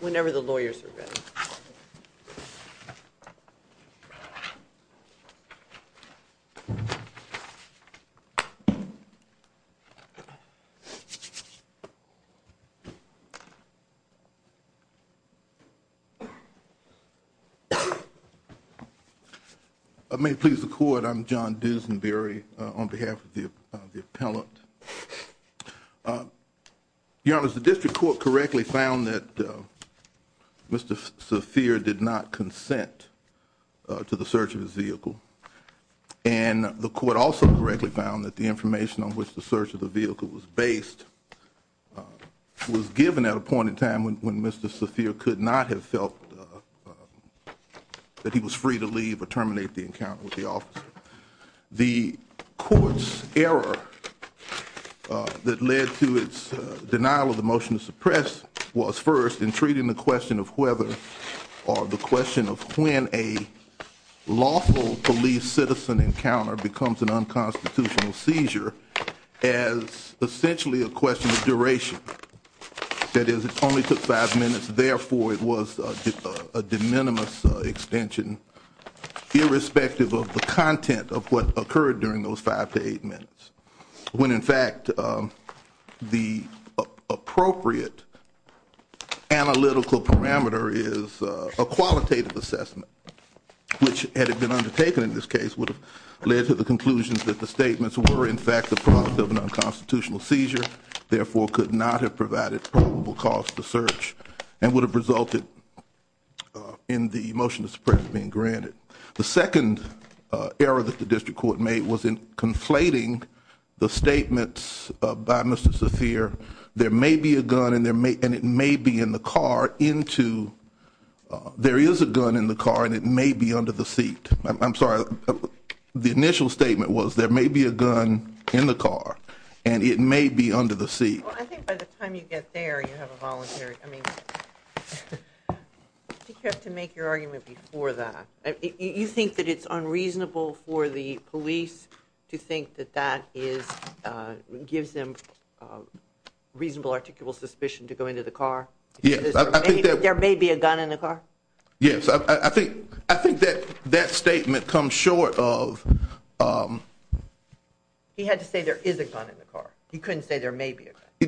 Whenever the lawyers are good. I may please the court I'm John Duesenberry on behalf of the appellant. The district court correctly found that Mr. Saafir did not consent to the search of his vehicle and the court also correctly found that the information on which the search of the vehicle was based was given at a point in time when Mr. Saafir could not have felt that he was free to leave or terminate the encounter with the officer. The court's error that led to its denial of the motion to suppress was first in treating the question of whether or the question of when a lawful police citizen encounter becomes an unconstitutional seizure as essentially a question of duration. That is it only took five minutes therefore it was a de minimis extension irrespective of the content of what occurred during those five to eight minutes when in fact the appropriate analytical parameter is a qualitative assessment. Which had it been undertaken in this case would have led to the conclusion that the statements were in fact the product of an unconstitutional seizure therefore could not have provided probable cause to search and would have resulted in the motion to suppress being granted. The second error that the district court made was in conflating the statements by Mr. Saafir there may be a gun and it may be in the car into there is a gun in the car and it may be under the seat. I'm sorry the initial statement was there may be a gun in the car and it may be under the seat. I think by the time you get there you have a voluntary I mean. You have to make your argument before that you think that it's unreasonable for the police to think that that is gives them reasonable articulable suspicion to go into the car. There may be a gun in the car. Yes, I think I think that that statement comes short of. He had to say there is a gun in the car. You couldn't say there may be. I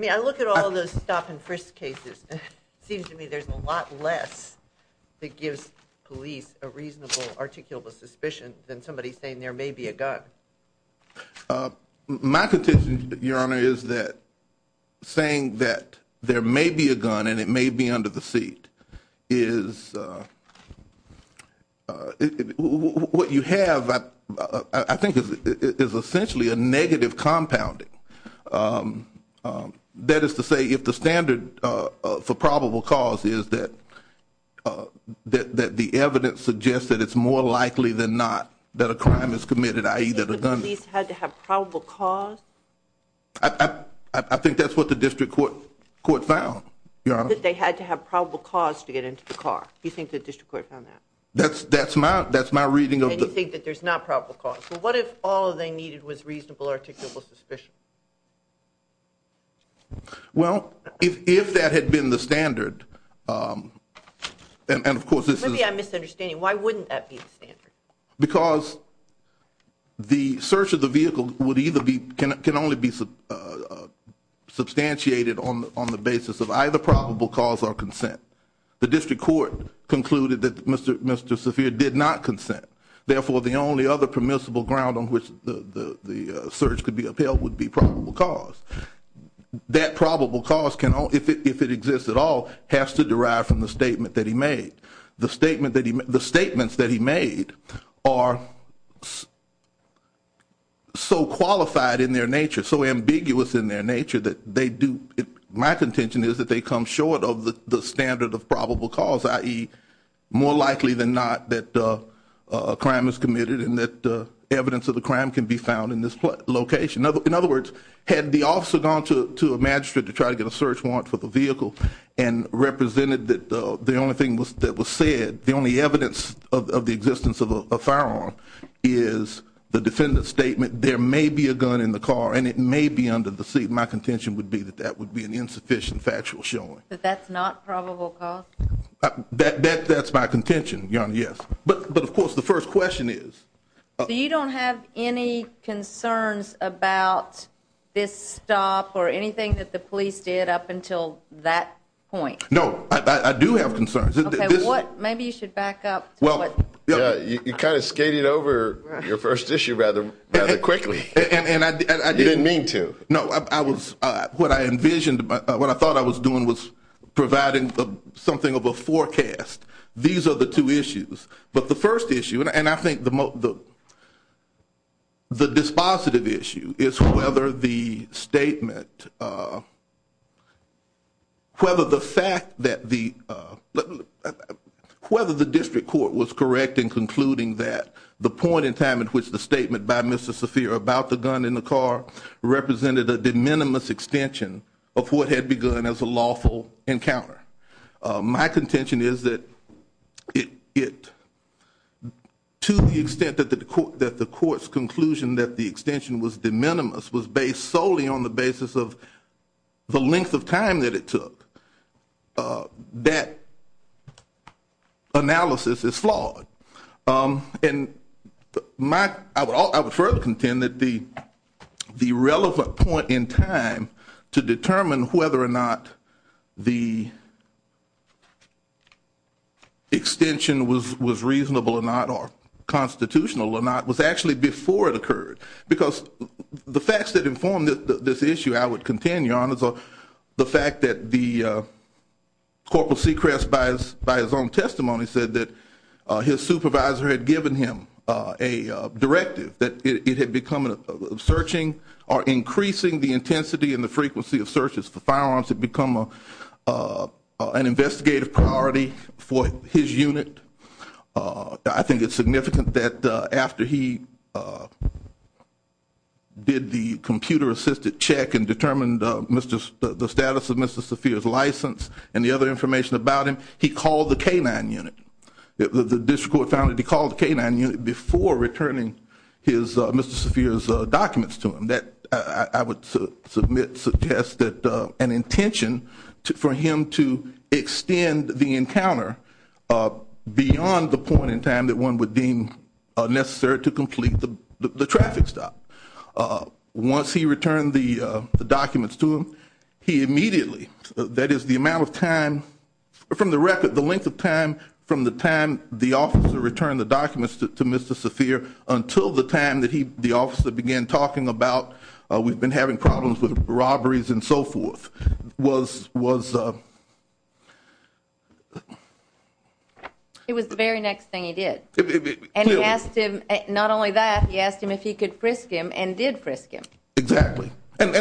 mean, I look at all those stop and frisk cases seems to me there's a lot less that gives police a reasonable articulable suspicion than somebody saying there may be a gun. My petition, Your Honor, is that saying that there may be a gun and it may be under the seat is what you have. I think it is essentially a negative compounding. That is to say if the standard for probable cause is that that the evidence suggests that it's more likely than not that a crime is committed. I either the police had to have probable cause. I think that's what the district court court found that they had to have probable cause to get into the car. You think the district court found that that's that's my that's my reading of the thing that there's not probable cause. Well, what if all they needed was reasonable articulable suspicion? Well, if that had been the standard and of course, this is a misunderstanding. Why wouldn't that be standard? Because the search of the vehicle would either be can can only be substantiated on on the basis of either probable cause or consent. The district court concluded that Mr. Mr. Sophia did not consent. Therefore, the only other permissible ground on which the search could be upheld would be probable cause. That probable cause can, if it exists at all, has to derive from the statement that he made. The statement that the statements that he made are. So qualified in their nature, so ambiguous in their nature that they do. My contention is that they come short of the standard of probable cause, i.e. more likely than not, that a crime is committed and that evidence of the crime can be found in this location. In other words, had the officer gone to a magistrate to try to get a search warrant for the vehicle and represented that, the only thing that was said, the only evidence of the existence of a firearm is the defendant's statement. There may be a gun in the car and it may be under the seat. My contention would be that that would be an insufficient factual showing that that's not probable. That's my contention. Yes. But of course, the first question is, you don't have any concerns about this stop or anything that the police did up until that point. No, I do have concerns. What maybe you should back up. Well, you kind of skated over your first issue rather quickly and I didn't mean to. No, I was, what I envisioned, what I thought I was doing was providing something of a forecast. These are the two issues. But the first issue, and I think the dispositive issue, is whether the statement, whether the fact that the, whether the district court was correct in concluding that the point in time in which the statement by Mr. Carr represented a de minimis extension of what had begun as a lawful encounter. My contention is that it, to the extent that the court's conclusion that the extension was de minimis, was based solely on the basis of the length of time that it took, that analysis is flawed. And my, I would further contend that the relevant point in time to determine whether or not the extension was reasonable or not, or constitutional or not, was actually before it occurred. Because the facts that inform this issue, I would contend, Your Honors, are the fact that the Corporal Sechrest, by his own testimony, said that his supervisor had given him a directive, that it had become searching or increasing the intensity and the frequency of searches for firearms had become an investigative priority for his unit. I think it's significant that after he did the computer-assisted check and determined the status of Mr. Saphir's license and the other information about him, he called the K-9 unit. The district court found that he called the K-9 unit before returning Mr. Saphir's documents to him. And that, I would submit, suggest that an intention for him to extend the encounter beyond the point in time that one would deem necessary to complete the traffic stop. Once he returned the documents to him, he immediately, that is the amount of time from the record, the length of time from the time the officer returned the documents to Mr. Saphir until the time that the officer began talking about, we've been having problems with robberies and so forth, was... It was the very next thing he did. And he asked him, not only that, he asked him if he could frisk him and did frisk him. Exactly. And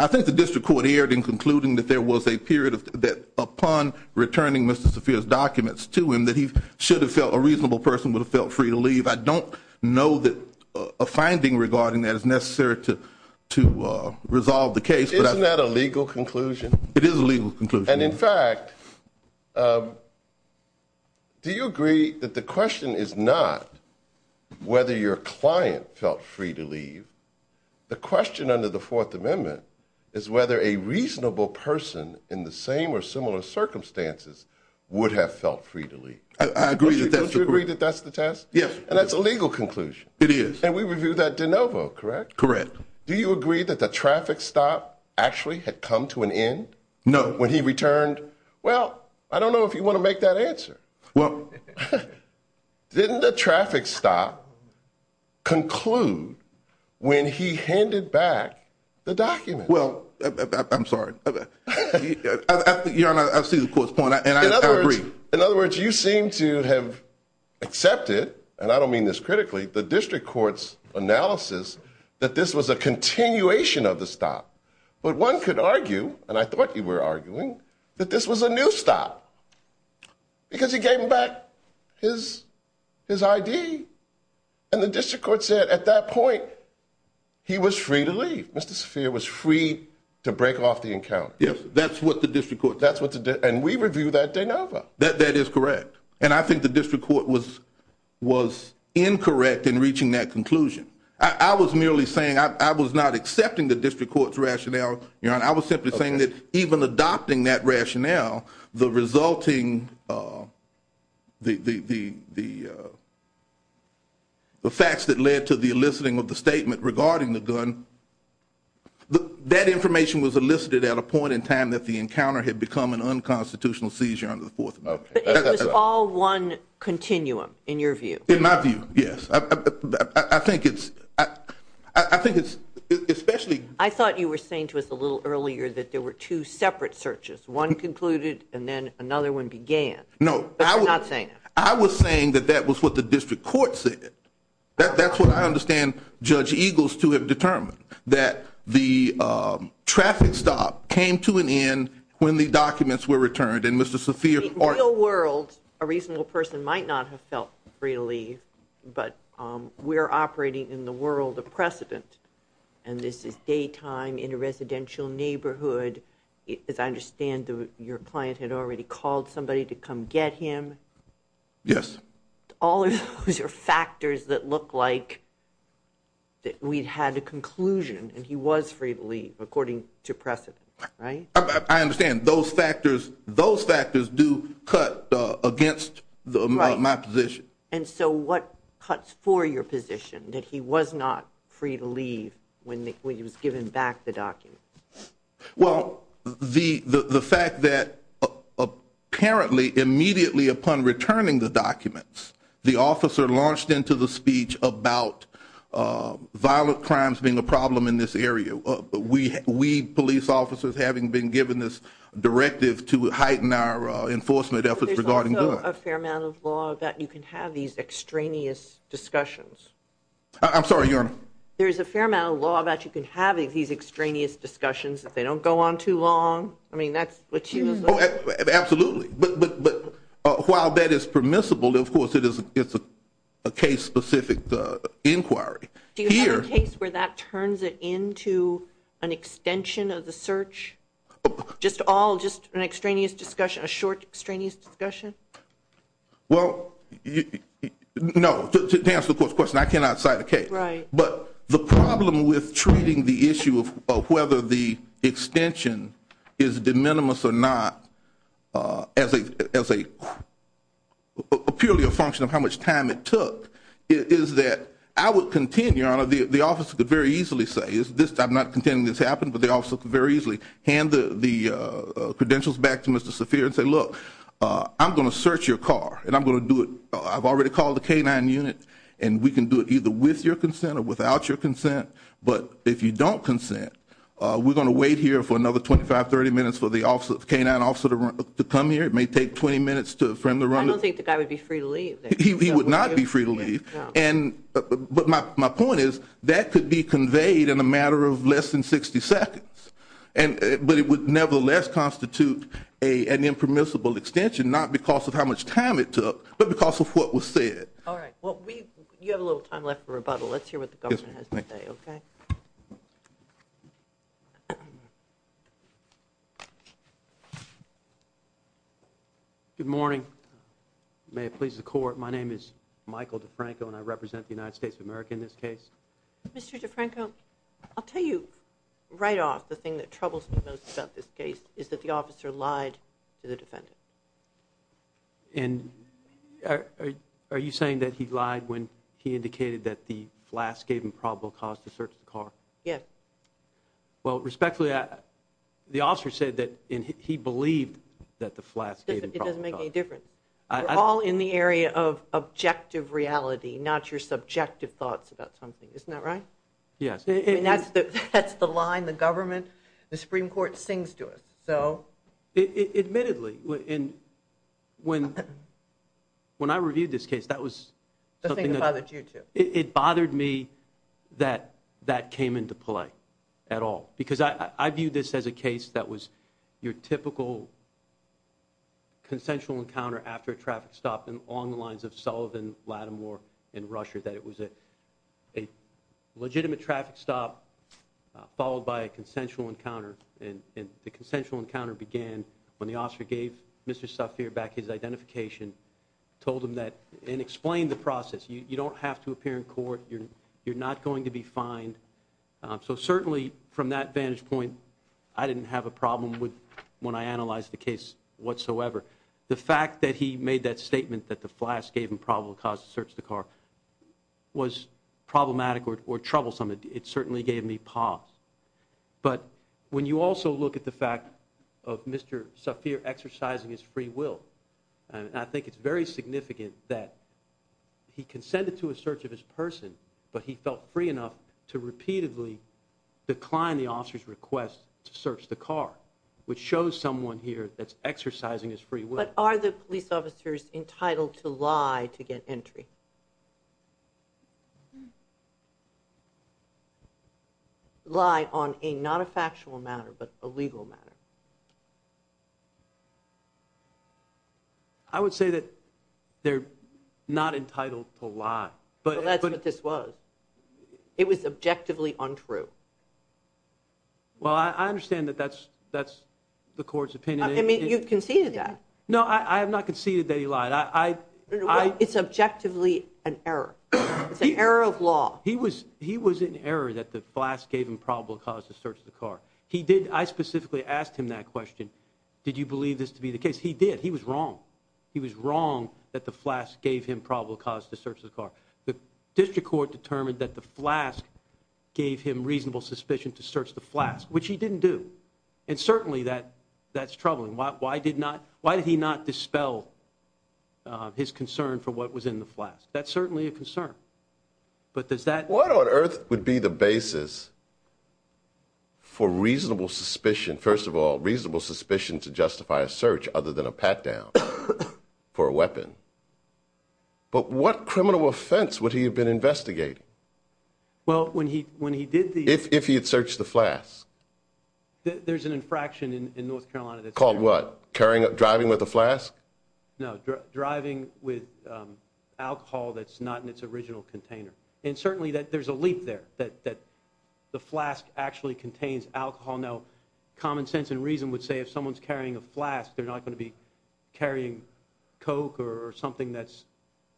I think the district court erred in concluding that there was a period that upon returning Mr. Saphir's documents to him that he should have felt a reasonable person would have felt free to leave. I don't know that a finding regarding that is necessary to resolve the case. Isn't that a legal conclusion? It is a legal conclusion. And in fact, do you agree that the question is not whether your client felt free to leave? The question under the Fourth Amendment is whether a reasonable person in the same or similar circumstances would have felt free to leave. I agree that that's the... Don't you agree that that's the test? Yes. And that's a legal conclusion. It is. And we reviewed that de novo, correct? Correct. Do you agree that the traffic stop actually had come to an end? No. When he returned, well, I don't know if you want to make that answer. Didn't the traffic stop conclude when he handed back the documents? Well, I'm sorry. Your Honor, I see the court's point and I agree. In other words, you seem to have accepted, and I don't mean this critically, the district court's analysis that this was a continuation of the stop. But one could argue, and I thought you were arguing, that this was a new stop because he gave him back his I.D. And the district court said at that point he was free to leave. Mr. Spheer was free to break off the encounter. Yes, that's what the district court said. And we reviewed that de novo. That is correct. And I think the district court was incorrect in reaching that conclusion. I was merely saying I was not accepting the district court's rationale, Your Honor. I was simply saying that even adopting that rationale, the resulting, the facts that led to the eliciting of the statement regarding the gun, that information was elicited at a point in time that the encounter had become an unconstitutional seizure under the Fourth Amendment. But it was all one continuum in your view. In my view, yes. I think it's especially. I thought you were saying to us a little earlier that there were two separate searches. One concluded and then another one began. No. But you're not saying that. I was saying that that was what the district court said. That's what I understand Judge Eagles to have determined, that the traffic stop came to an end when the documents were returned. And Mr. Spheer. In the real world, a reasonable person might not have felt free to leave, but we're operating in the world of precedent. And this is daytime in a residential neighborhood. As I understand, your client had already called somebody to come get him. Yes. All of those are factors that look like we had a conclusion and he was free to leave according to precedent. Right. I understand. And those factors, those factors do cut against my position. And so what cuts for your position that he was not free to leave when he was given back the documents? Well, the fact that apparently immediately upon returning the documents, the officer launched into the speech about violent crimes being a problem in this area. We police officers having been given this directive to heighten our enforcement efforts regarding a fair amount of law that you can have these extraneous discussions. I'm sorry. There is a fair amount of law that you can have these extraneous discussions if they don't go on too long. I mean, that's what you know. Absolutely. But while that is permissible, of course, it is it's a case specific inquiry. Do you have a case where that turns it into an extension of the search? Just all just an extraneous discussion, a short extraneous discussion? Well, no. To answer the question, I cannot cite a case. But the problem with treating the issue of whether the extension is de minimis or not as a purely a function of how much time it took is that I would continue on. The office could very easily say is this. I'm not contending this happened, but they also could very easily hand the credentials back to Mr. Saffir and say, look, I'm going to search your car and I'm going to do it. I've already called the canine unit and we can do it either with your consent or without your consent. But if you don't consent, we're going to wait here for another 25, 30 minutes for the officer, the canine officer to come here. It may take 20 minutes to from the run. I don't think the guy would be free to leave. He would not be free to leave. But my point is that could be conveyed in a matter of less than 60 seconds. But it would nevertheless constitute an impermissible extension, not because of how much time it took, but because of what was said. All right. Well, you have a little time left for rebuttal. Let's hear what the government has to say. Okay? Good morning. May it please the Court. My name is Michael DeFranco and I represent the United States of America in this case. Mr. DeFranco, I'll tell you right off the thing that troubles me most about this case is that the officer lied to the defendant. And are you saying that he lied when he indicated that the flask gave him probable cause to search the car? Yes. Well, respectfully, the officer said that he believed that the flask gave him probable cause. It doesn't make any difference. We're all in the area of objective reality, not your subjective thoughts about something. Isn't that right? Yes. That's the line the government, the Supreme Court sings to us. Admittedly. When I reviewed this case, that was something that bothered me that that came into play at all. Because I viewed this as a case that was your typical consensual encounter after a traffic stop along the lines of Sullivan, Lattimore, and Rusher, that it was a legitimate traffic stop followed by a consensual encounter. And the consensual encounter began when the officer gave Mr. Safir back his identification, told him that, and explained the process. You don't have to appear in court. You're not going to be fined. So certainly from that vantage point, I didn't have a problem when I analyzed the case whatsoever. The fact that he made that statement that the flask gave him probable cause to search the car was problematic or troublesome. It certainly gave me pause. But when you also look at the fact of Mr. Safir exercising his free will, I think it's very significant that he consented to a search of his person, but he felt free enough to repeatedly decline the officer's request to search the car, which shows someone here that's exercising his free will. But are the police officers entitled to lie to get entry? Lie on not a factual matter, but a legal matter? I would say that they're not entitled to lie. But that's what this was. It was objectively untrue. Well, I understand that that's the court's opinion. You've conceded that. No, I have not conceded that he lied. It's objectively an error. It's an error of law. He was in error that the flask gave him probable cause to search the car. I specifically asked him that question, did you believe this to be the case? He did. He was wrong. He was wrong that the flask gave him probable cause to search the car. The district court determined that the flask gave him reasonable suspicion to search the flask, which he didn't do. And certainly that's troubling. Why did he not dispel his concern for what was in the flask? That's certainly a concern. What on earth would be the basis for reasonable suspicion, first of all, reasonable suspicion to justify a search other than a pat-down for a weapon? But what criminal offense would he have been investigating if he had searched the flask? There's an infraction in North Carolina. Called what? Driving with a flask? No, driving with alcohol that's not in its original container. And certainly there's a leap there, that the flask actually contains alcohol. Now, common sense and reason would say if someone's carrying a flask, they're not going to be carrying Coke or something that's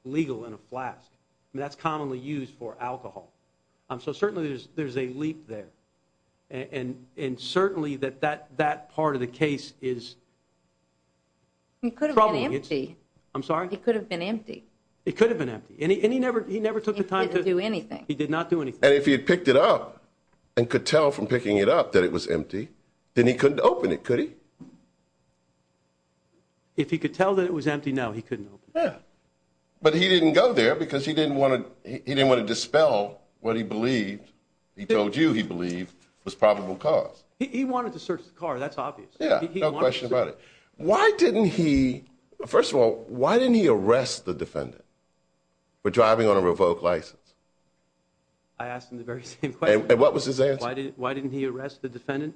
legal in a flask. That's commonly used for alcohol. So certainly there's a leap there. And certainly that part of the case is troubling. It could have been empty. I'm sorry? It could have been empty. It could have been empty. And he never took the time to do anything. He did not do anything. And if he had picked it up and could tell from picking it up that it was empty, then he couldn't open it, could he? If he could tell that it was empty, no, he couldn't open it. But he didn't go there because he didn't want to dispel what he believed, he told you he believed, was probable cause. He wanted to search the car, that's obvious. Yeah, no question about it. Why didn't he, first of all, why didn't he arrest the defendant for driving on a revoked license? I asked him the very same question. Why didn't he arrest the defendant?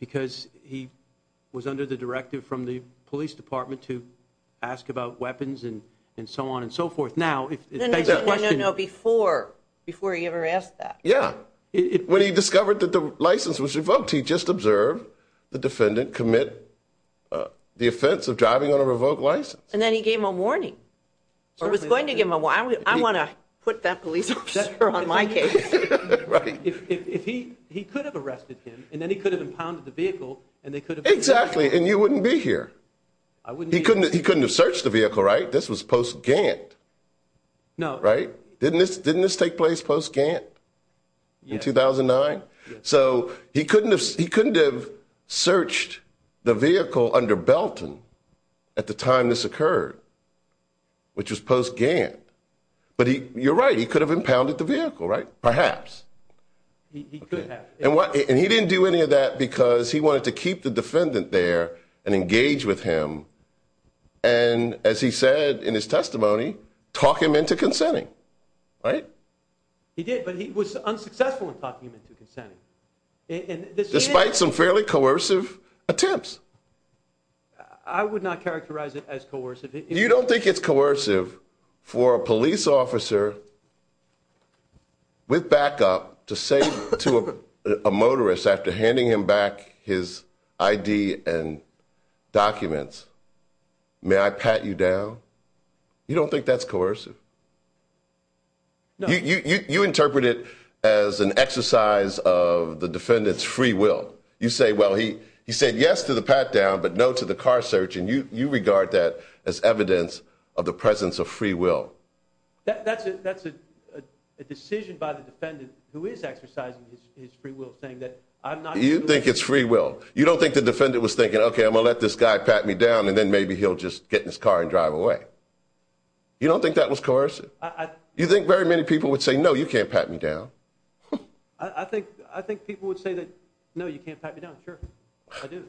Because he was under the directive from the police department to ask about weapons and so on and so forth. No, no, no, no, before he ever asked that. Yeah. When he discovered that the license was revoked, he just observed the defendant commit the offense of driving on a revoked license. And then he gave him a warning, or was going to give him a warning. I want to put that police officer on my case. If he could have arrested him and then he could have impounded the vehicle and they could have. Exactly. And you wouldn't be here. I wouldn't. He couldn't. He couldn't have searched the vehicle. Right. This was post-Gantt. No. Right. Didn't this take place post-Gantt in 2009? So he couldn't have searched the vehicle under Belton at the time this occurred, which was post-Gantt. But you're right, he could have impounded the vehicle. Perhaps. He could have. And he didn't do any of that because he wanted to keep the defendant there and engage with him and, as he said in his testimony, talk him into consenting. Right? He did, but he was unsuccessful in talking him into consenting. Despite some fairly coercive attempts. I would not characterize it as coercive. You don't think it's coercive for a police officer with backup to say to a motorist after handing him back his ID and documents, may I pat you down? You don't think that's coercive? No. You interpret it as an exercise of the defendant's free will. You say, well, he said yes to the pat-down, but no to the car search, and you regard that as evidence of the presence of free will. That's a decision by the defendant, who is exercising his free will, saying that I'm not going to do it. You think it's free will. You don't think the defendant was thinking, okay, I'm going to let this guy pat me down, and then maybe he'll just get in his car and drive away. You don't think that was coercive? You think very many people would say, no, you can't pat me down? I think people would say that, no, you can't pat me down. Sure, I do.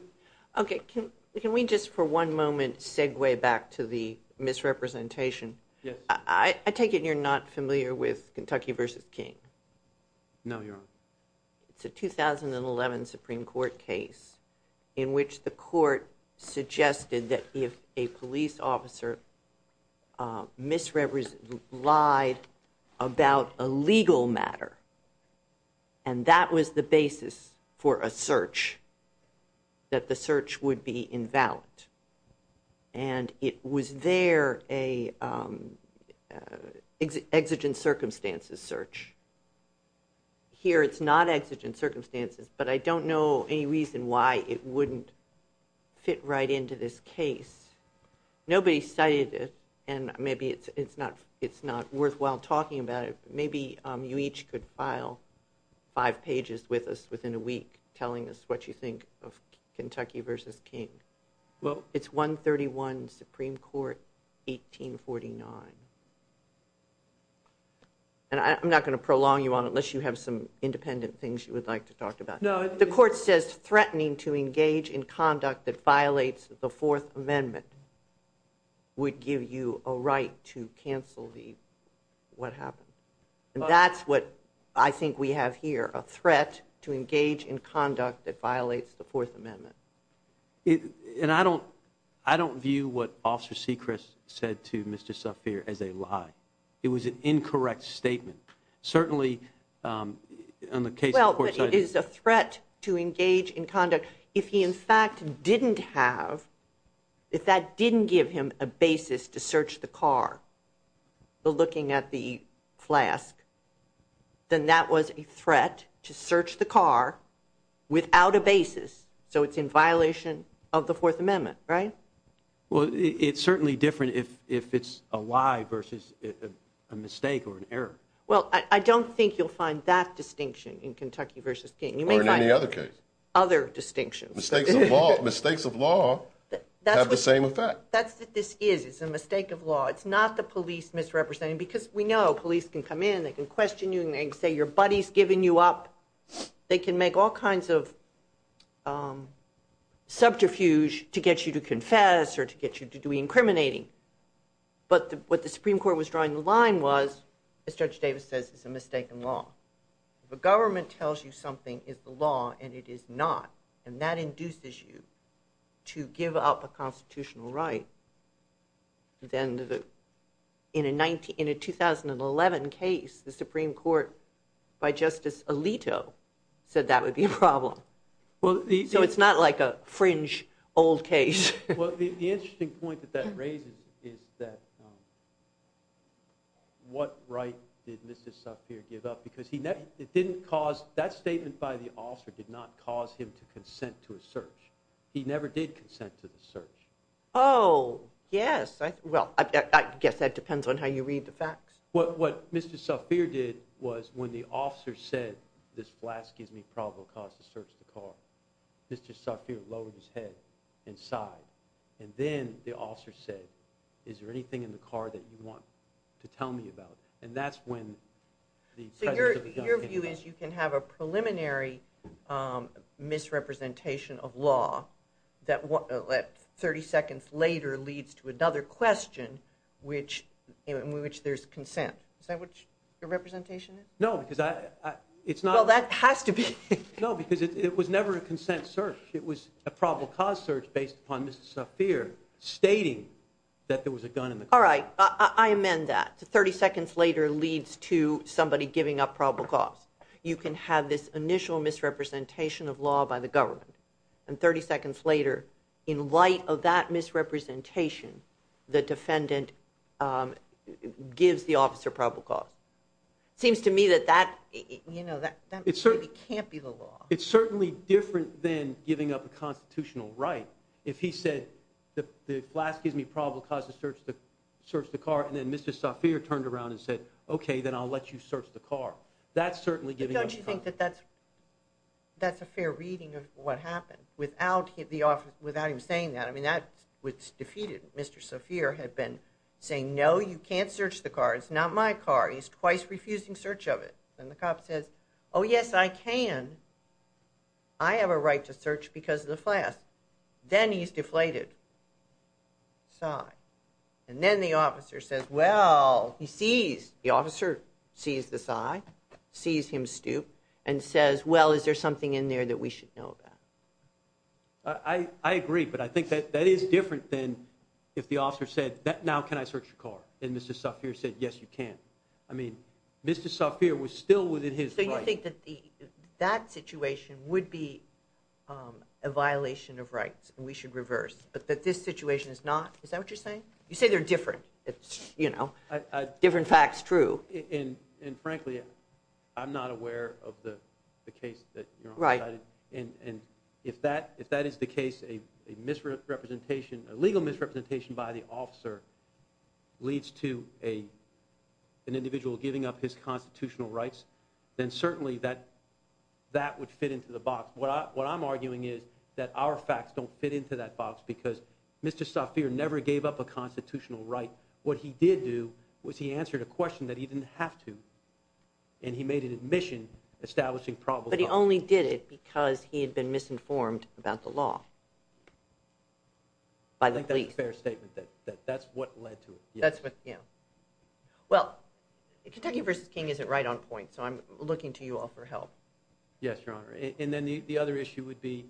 Okay, can we just for one moment segue back to the misrepresentation? Yes. I take it you're not familiar with Kentucky v. King? No, Your Honor. It's a 2011 Supreme Court case in which the court suggested that if a police officer misrepresented, lied about a legal matter, and that was the basis for a search, that the search would be invalid. And it was there an exigent circumstances search. Here it's not exigent circumstances, but I don't know any reason why it wouldn't fit right into this case. Nobody cited it, and maybe it's not worthwhile talking about it, but maybe you each could file five pages with us within a week telling us what you think of Kentucky v. King. Well... It's 131 Supreme Court, 1849. And I'm not going to prolong you on it unless you have some independent things you would like to talk about. No... The court says threatening to engage in conduct that violates the Fourth Amendment would give you a right to cancel what happened. And that's what I think we have here, a threat to engage in conduct that violates the Fourth Amendment. And I don't view what Officer Sechrist said to Mr. Safier as a lie. It was an incorrect statement. Certainly, in the case of the court... Well, it is a threat to engage in conduct. But if he, in fact, didn't have... If that didn't give him a basis to search the car, looking at the flask, then that was a threat to search the car without a basis. So it's in violation of the Fourth Amendment, right? Well, it's certainly different if it's a lie versus a mistake or an error. Well, I don't think you'll find that distinction in Kentucky v. King. Or in any other case. Other distinctions. Mistakes of law have the same effect. That's what this is. It's a mistake of law. It's not the police misrepresenting. Because we know police can come in, they can question you, and they can say your buddy's giving you up. They can make all kinds of subterfuge to get you to confess or to get you to do incriminating. But what the Supreme Court was drawing the line was, as Judge Davis says, is a mistake in law. If a government tells you something is the law and it is not, and that induces you to give up a constitutional right, then in a 2011 case, the Supreme Court, by Justice Alito, said that would be a problem. So it's not like a fringe old case. Well, the interesting point that that raises is that what right did Mr. Safier give up? Because that statement by the officer did not cause him to consent to a search. He never did consent to the search. Oh, yes. Well, I guess that depends on how you read the facts. What Mr. Safier did was when the officer said, this flask gives me probable cause to search the car, Mr. Safier lowered his head and sighed. And then the officer said, is there anything in the car that you want to tell me about? And that's when the presence of the gun came up. So your view is you can have a preliminary misrepresentation of law that 30 seconds later leads to another question in which there's consent. Is that what your representation is? No, because it's not. Well, that has to be. No, because it was never a consent search. It was a probable cause search based upon Mr. Safier stating that there was a gun in the car. All right. I amend that. 30 seconds later leads to somebody giving up probable cause. You can have this initial misrepresentation of law by the government. And 30 seconds later, in light of that misrepresentation, the defendant gives the officer probable cause. It seems to me that that maybe can't be the law. It's certainly different than giving up a constitutional right. If he said, the flask gives me probable cause to search the car, and then Mr. Safier turned around and said, okay, then I'll let you search the car. That's certainly giving up a constitutional right. But don't you think that that's a fair reading of what happened? Without him saying that, I mean, that was defeated. Mr. Safier had been saying, no, you can't search the car. It's not my car. He's twice refusing search of it. And the cop says, oh, yes, I can. I have a right to search because of the flask. Then he's deflated. Sigh. And then the officer says, well, he sees. The officer sees the sigh, sees him stoop, and says, well, is there something in there that we should know about? I agree, but I think that that is different than if the officer said, now can I search your car? And Mr. Safier said, yes, you can. I mean, Mr. Safier was still within his right. So you think that that situation would be a violation of rights and we should reverse, but that this situation is not? Is that what you're saying? You say they're different. It's, you know, different facts true. And, frankly, I'm not aware of the case that you're on. Right. And if that is the case, a legal misrepresentation by the officer leads to an individual giving up his constitutional rights, then certainly that would fit into the box. What I'm arguing is that our facts don't fit into that box because Mr. Safier never gave up a constitutional right. What he did do was he answered a question that he didn't have to, and he made an admission establishing probable cause. He only did it because he had been misinformed about the law by the police. I think that's a fair statement, that that's what led to it. That's what, yeah. Well, Kentucky v. King isn't right on points, so I'm looking to you all for help. Yes, Your Honor. And then the other issue would be,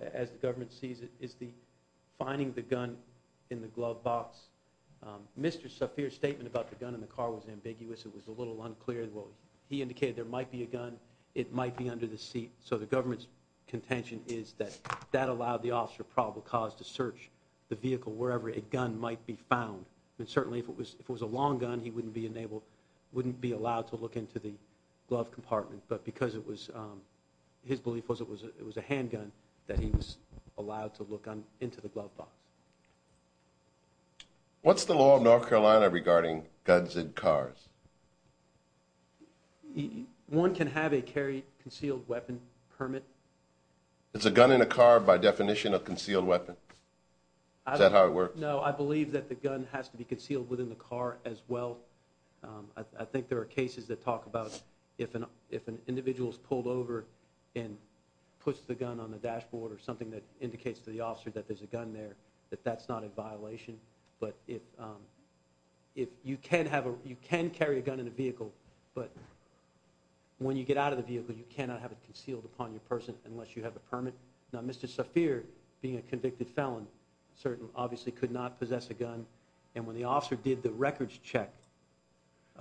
as the government sees it, is the finding the gun in the glove box. Mr. Safier's statement about the gun in the car was ambiguous. It was a little unclear. Well, he indicated there might be a gun. It might be under the seat. So the government's contention is that that allowed the officer of probable cause to search the vehicle wherever a gun might be found. And certainly if it was a long gun, he wouldn't be allowed to look into the glove compartment. But because it was, his belief was it was a handgun, that he was allowed to look into the glove box. What's the law of North Carolina regarding guns in cars? One can have a carry concealed weapon permit. Is a gun in a car by definition a concealed weapon? Is that how it works? No, I believe that the gun has to be concealed within the car as well. I think there are cases that talk about if an individual is pulled over and puts the gun on the dashboard or something that indicates to the officer that there's a gun there, that that's not a violation. But you can carry a gun in a vehicle, but when you get out of the vehicle, you cannot have it concealed upon your person unless you have a permit. Now, Mr. Safier, being a convicted felon, certainly obviously could not possess a gun. And when the officer did the records check.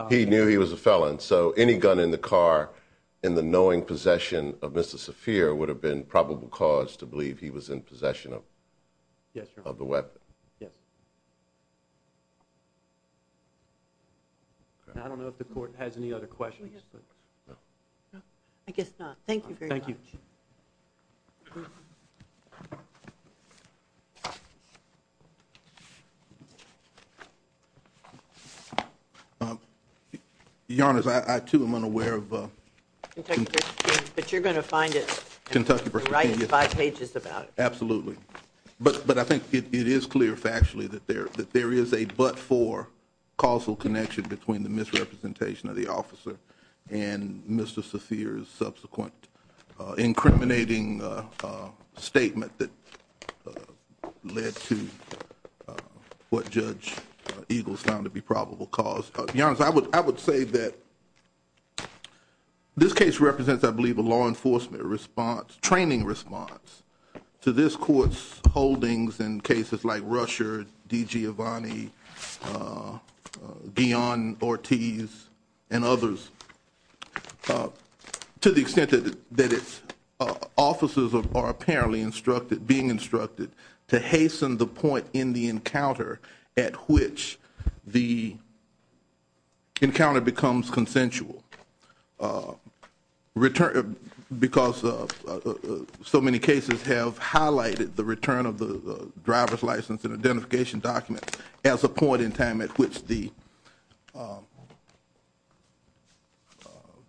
He knew he was a felon. So any gun in the car in the knowing possession of Mr. Safier would have been probable cause to believe he was in possession of the weapon. Yes. I don't know if the court has any other questions. I guess not. Thank you very much. Thank you. Thank you. Your Honor, I, too, am unaware of. But you're going to find it Kentucky. Five pages about. Absolutely. But I think it is clear factually that there that there is a but for causal connection between the misrepresentation of the officer and Mr. Safier's subsequent incriminating statement that led to what Judge Eagles found to be probable cause. I would say that this case represents, I believe, a law enforcement response. Training response to this court's holdings in cases like Russia, D.G. Avani, beyond Ortiz and others to the extent that it's offices are apparently instructed being instructed to hasten the point in the encounter at which the encounter becomes consensual. Because so many cases have highlighted the return of the driver's license and identification document as a point in time at which the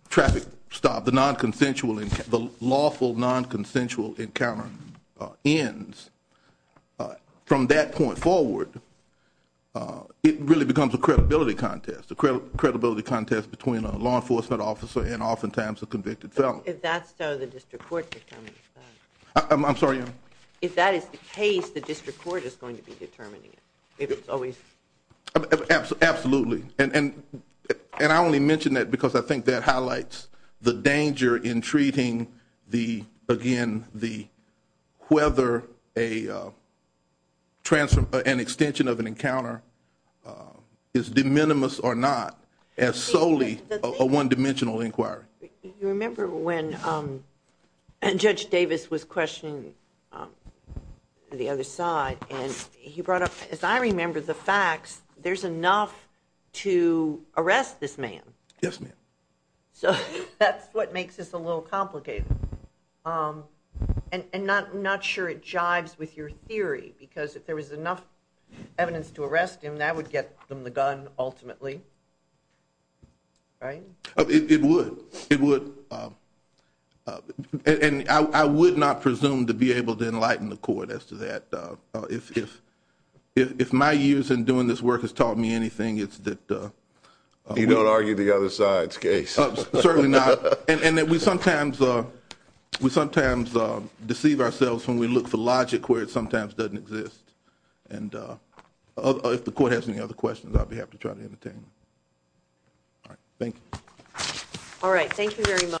traffic stop, the nonconsensual, the lawful nonconsensual encounter ends. From that point forward, it really becomes a credibility contest, a credibility contest between a law enforcement officer and oftentimes a convicted felon. If that's so, the district court determines. I'm sorry, Your Honor. If that is the case, the district court is going to be determining it. If it's always. Absolutely. And I only mention that because I think that highlights the danger in treating the, again, the whether an extension of an encounter is de minimis or not as solely a one-dimensional inquiry. You remember when Judge Davis was questioning the other side and he brought up, as I remember the facts, there's enough to arrest this man. Yes, ma'am. So that's what makes this a little complicated. And I'm not sure it jives with your theory because if there was enough evidence to arrest him, that would get them the gun ultimately. Right? It would. It would. And I would not presume to be able to enlighten the court as to that. If my years in doing this work has taught me anything, it's that. You don't argue the other side's case. Certainly not. And that we sometimes deceive ourselves when we look for logic where it sometimes doesn't exist. And if the court has any other questions, I'll be happy to try to entertain them. All right. Thank you. All right. Thank you very much.